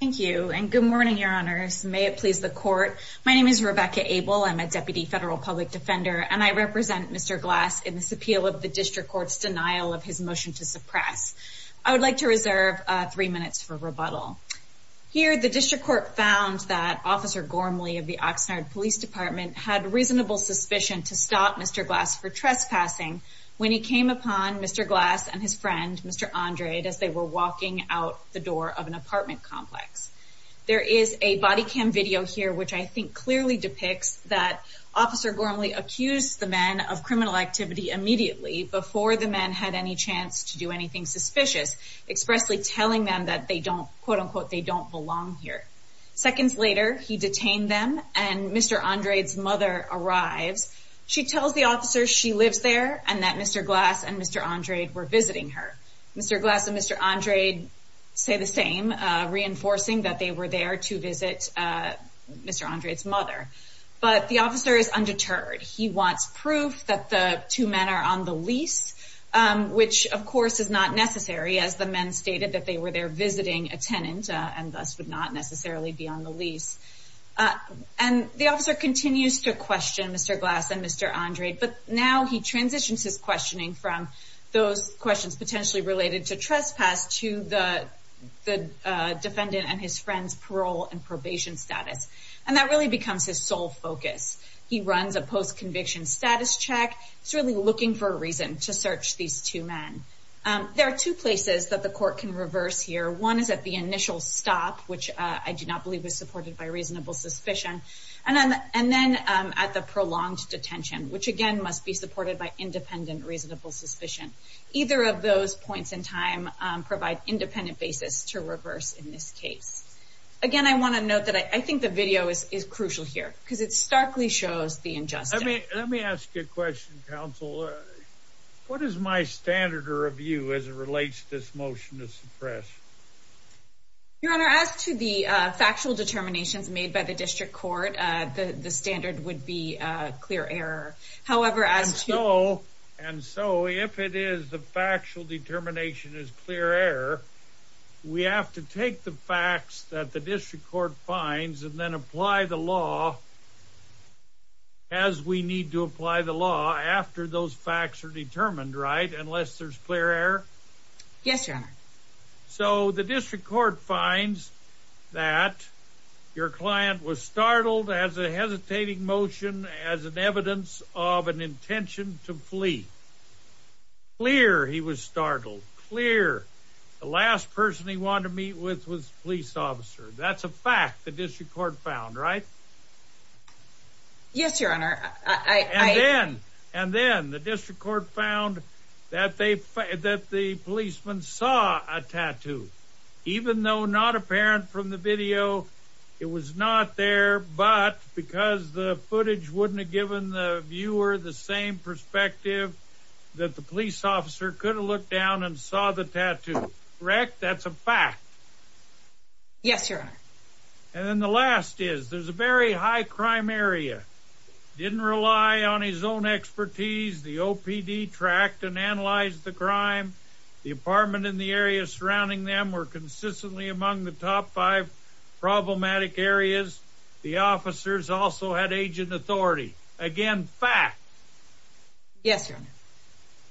thank you and good morning your honors may it please the court my name is Rebecca Abel I'm a deputy federal public defender and I represent mr. glass in this appeal of the district courts denial of his motion to suppress I would like to reserve three minutes for rebuttal here the district court found that officer Gormley of the Oxnard Police Department had reasonable suspicion to stop mr. glass for trespassing when he came upon mr. glass and his friend mr. Andrade as they were walking out the door of an apartment complex there is a body cam video here which I think clearly depicts that officer Gormley accused the men of criminal activity immediately before the men had any chance to do anything suspicious expressly telling them that they don't quote-unquote they don't belong here seconds later he detained them and mr. Andrade's mother arrives she tells the officer she lives there and that mr. glass and mr. Andrade were visiting her mr. glass and mr. Andrade say the same reinforcing that they were there to visit mr. Andrade's mother but the officer is undeterred he wants proof that the two men are on the lease which of course is not necessary as the men stated that they were there visiting a tenant and thus would not necessarily be on the lease and the officer continues to question mr. glass and mr. Andrade but now he transitions his questioning from those questions potentially related to trespass to the defendant and his friends parole and probation status and that really becomes his sole focus he runs a post-conviction status check it's really looking for a reason to search these two men there are two places that the court can reverse here one is at the initial stop which I do not believe was supported by reasonable suspicion and and then at the prolonged detention which again must be supported by independent reasonable suspicion either of those points in time provide independent basis to reverse in this case again I want to note that I think the video is crucial here because it starkly shows the injustice let me ask you a question counsel what is my standard or of you as it relates this motion to suppress your honor as to the factual determinations made by the standard would be clear error however as you know and so if it is the factual determination is clear error we have to take the facts that the district court finds and then apply the law as we need to apply the law after those facts are determined right unless there's clear error yes sir so the district court finds that your client was startled as a hesitating motion as an evidence of an intention to flee clear he was startled clear the last person he wanted to meet with was police officer that's a fact the district court found right yes your honor and then and then the district court found that they that the saw a tattoo even though not apparent from the video it was not there but because the footage wouldn't have given the viewer the same perspective that the police officer could have looked down and saw the tattoo wreck that's a fact yes your honor and then the last is there's a very high crime area didn't rely on his own expertise the OPD tracked and analyzed the crime the apartment in the area surrounding them were consistently among the top five problematic areas the officers also had agent authority again fact yes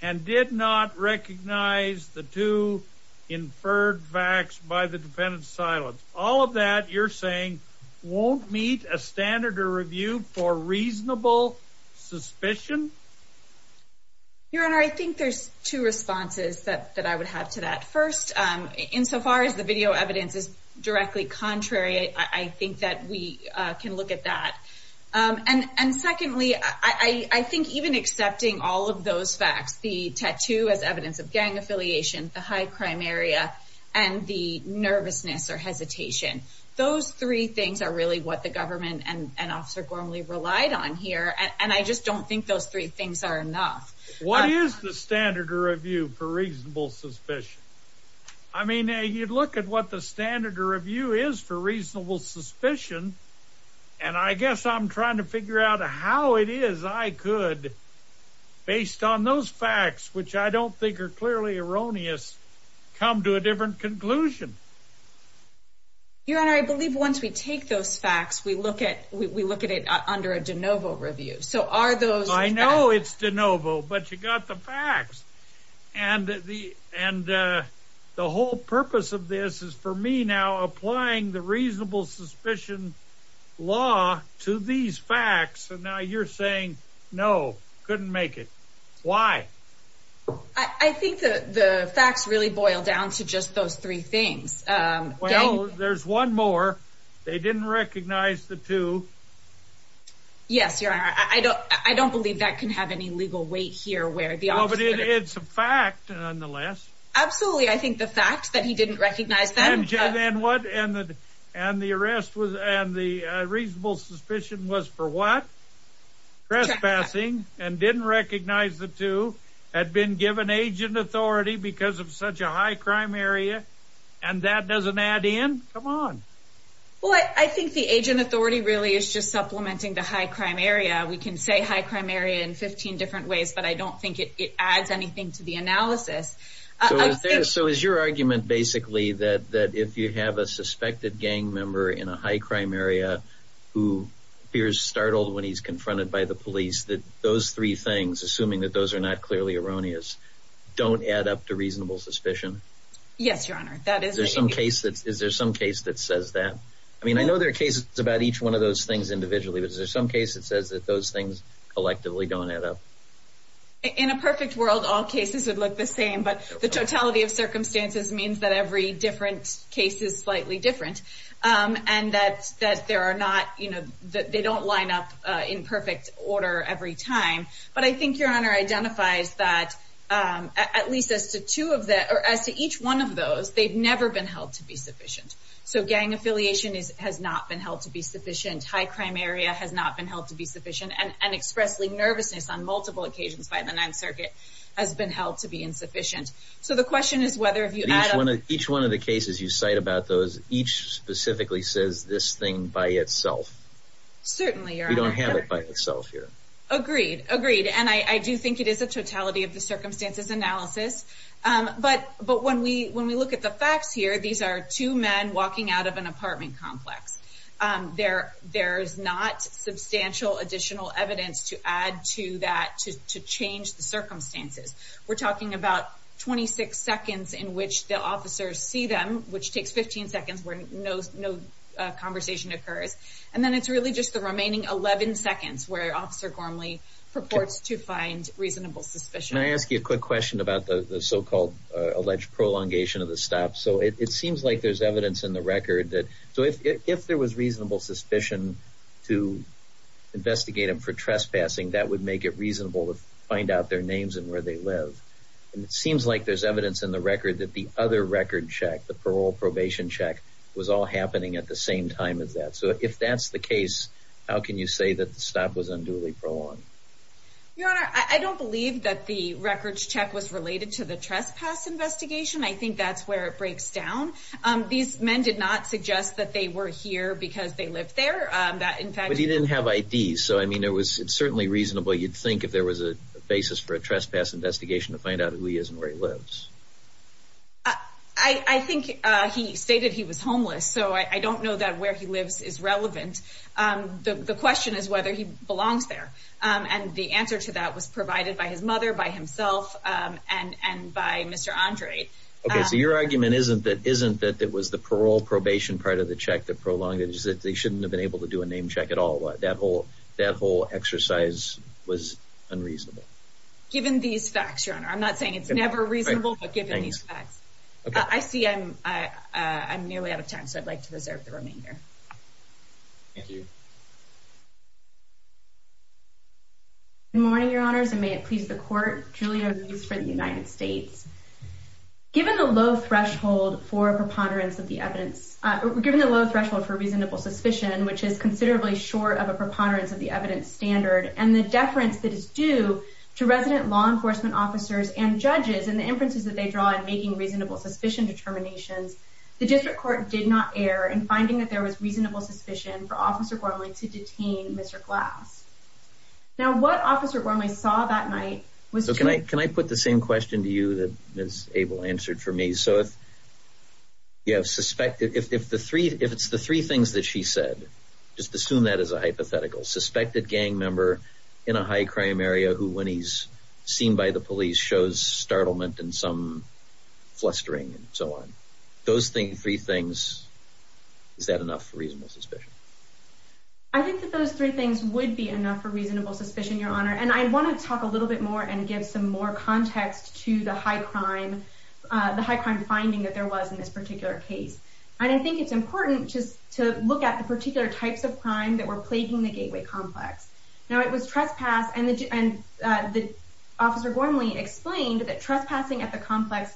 and did not recognize the two inferred facts by the defendant's silence all of that you're saying won't meet a standard or review for reasonable suspicion your honor I think there's two responses that that I would have to that first in so far as the video evidence is directly contrary I think that we can look at that and and secondly I I think even accepting all of those facts the tattoo as evidence of gang affiliation the high crime area and the nervousness or three things are really what the government and an officer Gormley relied on here and I just don't think those three things are enough what is the standard or review for reasonable suspicion I mean you'd look at what the standard or review is for reasonable suspicion and I guess I'm trying to figure out how it is I could based on those facts which I don't think are once we take those facts we look at we look at it under a de novo review so are those I know it's de novo but you got the facts and the and the whole purpose of this is for me now applying the reasonable suspicion law to these facts and now you're saying no couldn't make it why I think the facts really boil down to just those three things well there's one more they didn't recognize the two yes your honor I don't I don't believe that can have any legal weight here where the all but it's a fact nonetheless absolutely I think the fact that he didn't recognize them and what and that and the arrest was and the reasonable suspicion was for what trespassing and didn't recognize the two had been given age and authority because of such a high crime area and that doesn't add in come on well I think the agent authority really is just supplementing the high crime area we can say high crime area in 15 different ways but I don't think it adds anything to the analysis so is your argument basically that that if you have a suspected gang member in a high crime area who appears startled when he's confronted by the police that those three things assuming that those are not clearly erroneous don't add up to reasonable suspicion yes your honor that is there some case that is there some case that says that I mean I know there are cases about each one of those things individually there's some cases says that those things collectively don't add up in a perfect world all cases that look the same but the totality of circumstances means that every different cases slightly different and that's that are not you know that they don't line up in perfect order every time but I think your honor identifies that at least as to two of that or as to each one of those they've never been held to be sufficient so gang affiliation is has not been held to be sufficient high crime area has not been held to be sufficient and expressly nervousness on multiple occasions by the Ninth Circuit has been held to be insufficient so the question is whether if you add one of each one of the cases you cite about those each specifically says this thing by itself certainly you don't have it by itself here agreed agreed and I do think it is a totality of the circumstances analysis but but when we when we look at the facts here these are two men walking out of an apartment complex there there's not substantial additional evidence to add to that to change the circumstances we're talking about 26 seconds in which the officers see them which takes 15 seconds where no no conversation occurs and then it's really just the remaining 11 seconds where officer Gormley purports to find reasonable suspicion I ask you a quick question about the so-called alleged prolongation of the stop so it seems like there's evidence in the record that so if there was reasonable suspicion to investigate him for trespassing that would make it reasonable to find out their names and where they live and it the parole probation check was all happening at the same time as that so if that's the case how can you say that the stop was unduly prolonged yeah I don't believe that the records check was related to the trespass investigation I think that's where it breaks down these men did not suggest that they were here because they lived there that in fact he didn't have IDs so I mean there was certainly reasonable you'd think if there was a basis for a trespass investigation to find out who he is and where he lives I think he stated he was homeless so I don't know that where he lives is relevant the question is whether he belongs there and the answer to that was provided by his mother by himself and and by mr. Andre okay so your argument isn't that isn't that it was the parole probation part of the check that prolong it is that they shouldn't have been able to do a name check at all that whole that whole exercise was unreasonable given these facts your honor I'm not saying it's never reasonable but given these facts I see I'm I'm nearly out of time so I'd like to reserve the remainder thank you morning your honors and may it please the court Julia news for the United States given the low threshold for preponderance of the evidence given the low threshold for reasonable suspicion which is and the deference that is due to resident law enforcement officers and judges and the inferences that they draw in making reasonable suspicion determinations the district court did not err in finding that there was reasonable suspicion for officer Gormley to detain mr. glass now what officer Gormley saw that night was so can I can I put the same question to you that is able answered for me so if you have suspected if the three if it's the three things that she said just assume that as a hypothetical suspected gang member in a high-crime area who when he's seen by the police shows startlement and some flustering and so on those things three things is that enough for reasonable suspicion I think that those three things would be enough for reasonable suspicion your honor and I want to talk a little bit more and give some more context to the high crime the high crime finding that there was in this particular case and I think it's important just to look at the gateway complex now it was trespass and the officer Gormley explained that trespassing at the complex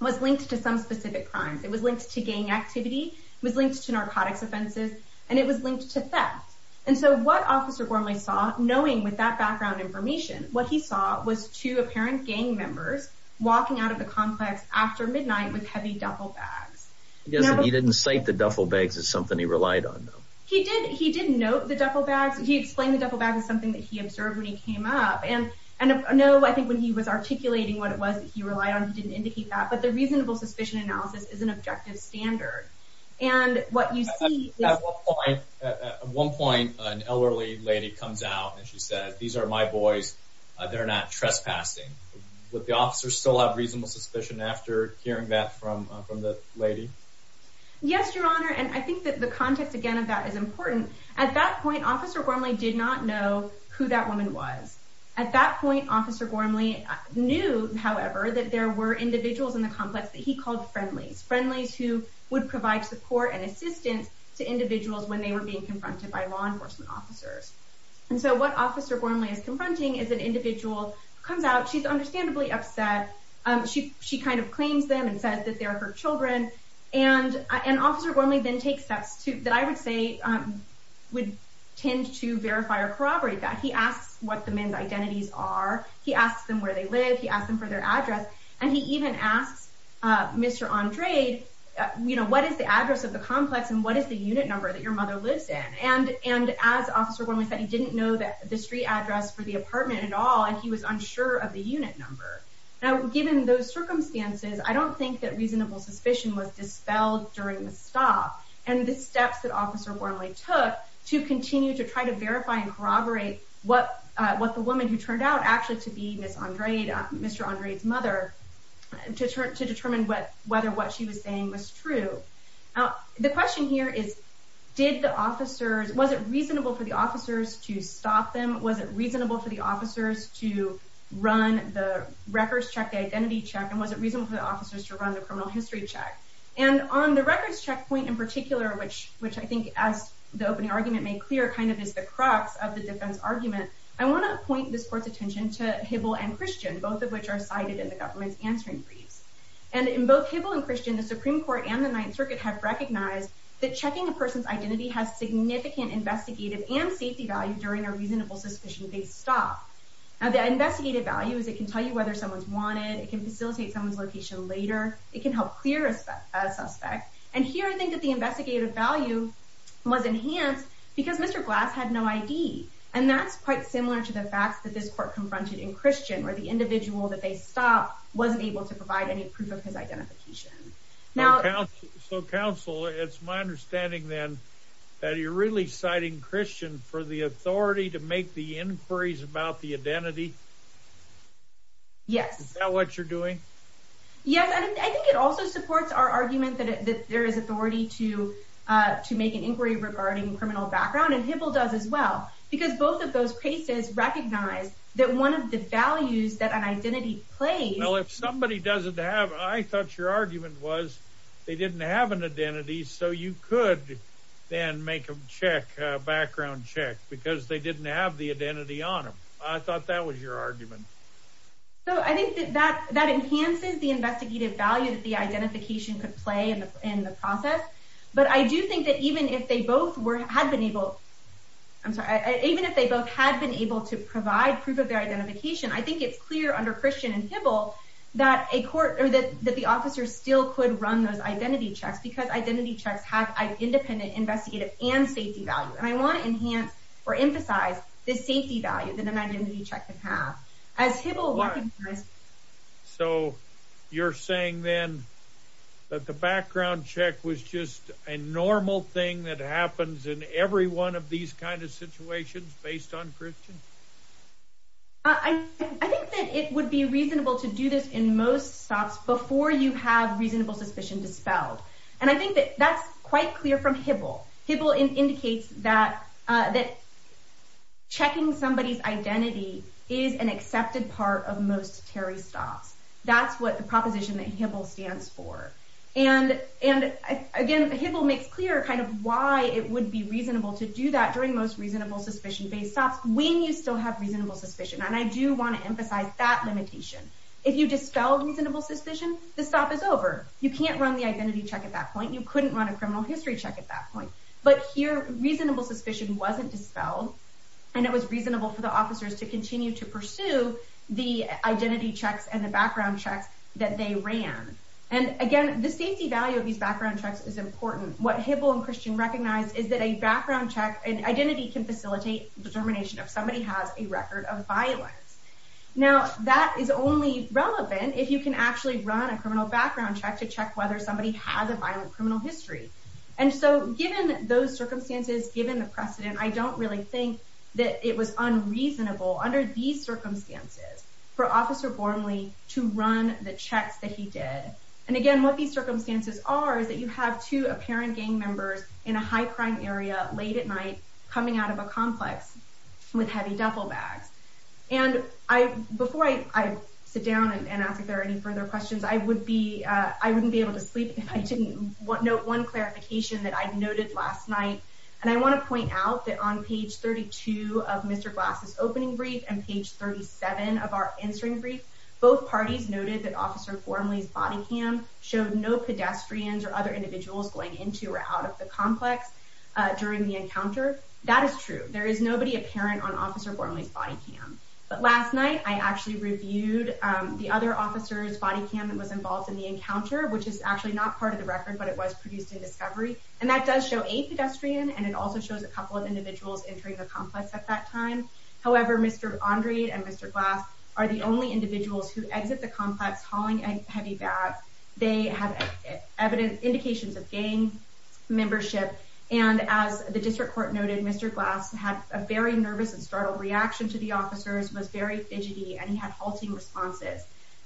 was linked to some specific crimes it was linked to gang activity was linked to narcotics offenses and it was linked to theft and so what officer Gormley saw knowing with that background information what he saw was two apparent gang members walking out of the complex after midnight with heavy duffel bags yes he didn't say the duffel bags is something he relied on he didn't he didn't know the duffel bags he explained the duffel bag is something that he observed when he came up and and no I think when he was articulating what it was that he relied on didn't indicate that but the reasonable suspicion analysis is an objective standard and what you see at one point an elderly lady comes out and she said these are my boys they're not trespassing with the officers still have reasonable suspicion after hearing that from the lady yes your honor and I think that the context again of that is important at that point officer Gormley did not know who that woman was at that point officer Gormley knew however that there were individuals in the complex that he called friendlies friendlies who would provide support and assistance to individuals when they were being confronted by law enforcement officers and so what officer Gormley is confronting is an individual comes out she's understandably upset she she kind of claims them and says that they are her children and an officer Gormley then takes steps to that I would say would tend to verify or corroborate that he asks what the men's identities are he asks them where they live he asked them for their address and he even asks mr. Andre you know what is the address of the complex and what is the unit number that your mother lives in and and as officer Gormley said he didn't know that the street address for the apartment at all and he was unsure of the unit number now given those circumstances I don't think that reasonable suspicion was dispelled during the stop and the steps that officer Gormley took to continue to try to verify and corroborate what what the woman who turned out actually to be miss Andre Mr. Andre's mother and to turn to determine what whether what she was saying was true now the question here is did the officers was it the officers to stop them was it reasonable for the officers to run the records check the identity check and was it reasonable for the officers to run the criminal history check and on the records checkpoint in particular which which I think as the opening argument made clear kind of is the crux of the defense argument I want to point this court's attention to Hibble and Christian both of which are cited in the government's answering briefs and in both Hibble and Christian the Supreme Court and the Ninth Circuit have recognized that checking a person's identity has significant investigative and safety value during a reasonable suspicion case stop now the investigative value is it can tell you whether someone's wanted it can facilitate someone's location later it can help clear a suspect and here I think that the investigative value was enhanced because mr. glass had no ID and that's quite similar to the facts that this court confronted in Christian where the individual that they stopped wasn't able to provide any proof of his identification now so counsel it's my understanding then that you're really citing Christian for the authority to make the inquiries about the identity yes what you're doing yes I think it also supports our argument that there is authority to to make an inquiry regarding criminal background and Hibble does as well because both of those cases recognize that one of the values that an identity play well if somebody doesn't have I thought your argument was they then make a check background check because they didn't have the identity on him I thought that was your argument so I think that that enhances the investigative value that the identification could play in the process but I do think that even if they both were had been able I'm sorry even if they both had been able to provide proof of their identification I think it's clear under Christian and Hibble that a court or that that the officer still could run those identity checks because identity checks have an independent investigative and safety value and I want to enhance or emphasize this safety value than an identity check the path as Hibble was so you're saying then that the background check was just a normal thing that happens in every one of these kind of situations based on Christian I think that it would be reasonable to do this in most stops before you have reasonable suspicion dispelled and I think that that's quite clear from Hibble Hibble in indicates that that checking somebody's identity is an accepted part of most Terry stops that's what the proposition that Hibble stands for and and again Hibble makes clear kind of why it would be reasonable to do that during most reasonable suspicion based stops when you still have reasonable suspicion and I do want to dispel reasonable suspicion the stop is over you can't run the identity check at that point you couldn't run a criminal history check at that point but here reasonable suspicion wasn't dispelled and it was reasonable for the officers to continue to pursue the identity checks and the background checks that they ran and again the safety value of these background checks is important what Hibble and Christian recognized is that a background check and identity can facilitate determination if somebody has a record of violence now that is only relevant if you can actually run a criminal background check to check whether somebody has a violent criminal history and so given those circumstances given the precedent I don't really think that it was unreasonable under these circumstances for officer Bormley to run the checks that he did and again what these circumstances are is that you have two apparent gang members in a high-crime area late at night coming out of a further questions I would be I wouldn't be able to sleep if I didn't what note one clarification that I've noted last night and I want to point out that on page 32 of mr. glasses opening brief and page 37 of our answering brief both parties noted that officer Bormley's body cam showed no pedestrians or other individuals going into or out of the complex during the encounter that is true there is nobody apparent on officer Bormley's body cam but last night I actually reviewed the other officers body cam that was involved in the encounter which is actually not part of the record but it was produced in discovery and that does show a pedestrian and it also shows a couple of individuals entering the complex at that time however mr. Andre and mr. glass are the only individuals who exit the complex hauling a heavy bag they have evidence indications of gang membership and as the district court noted mr. glass had a very nervous and startled reaction to the officers was very fidgety and he had halting responses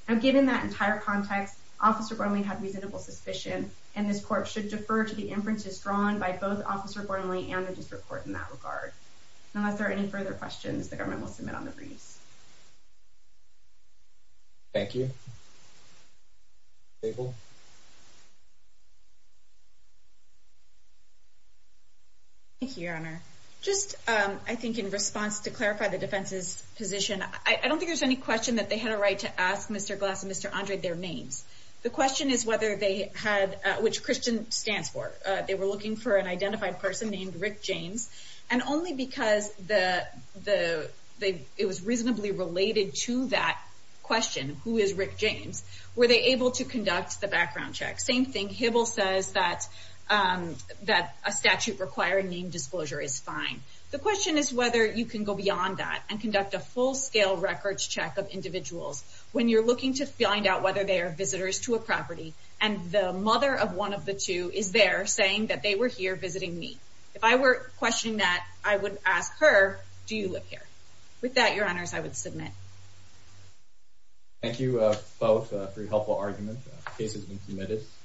now given that entire context officer Bormley had reasonable suspicion and this court should defer to the inferences drawn by both officer Bormley and the district court in that regard unless there are any further questions the government will submit on the briefs thank you thank you your honor just I think in response to clarify the defense's I don't think there's any question that they had a right to ask mr. glass mr. Andre their names the question is whether they had which Christian stands for they were looking for an identified person named Rick James and only because the the it was reasonably related to that question who is Rick James were they able to conduct the background check same thing Hibble says that that a statute requiring name disclosure is fine the question is whether you can go scale records check of individuals when you're looking to find out whether they are visitors to a property and the mother of one of the two is there saying that they were here visiting me if I were questioning that I would ask her do you live here with that your honors I would submit thank you both for your helpful argument cases been committed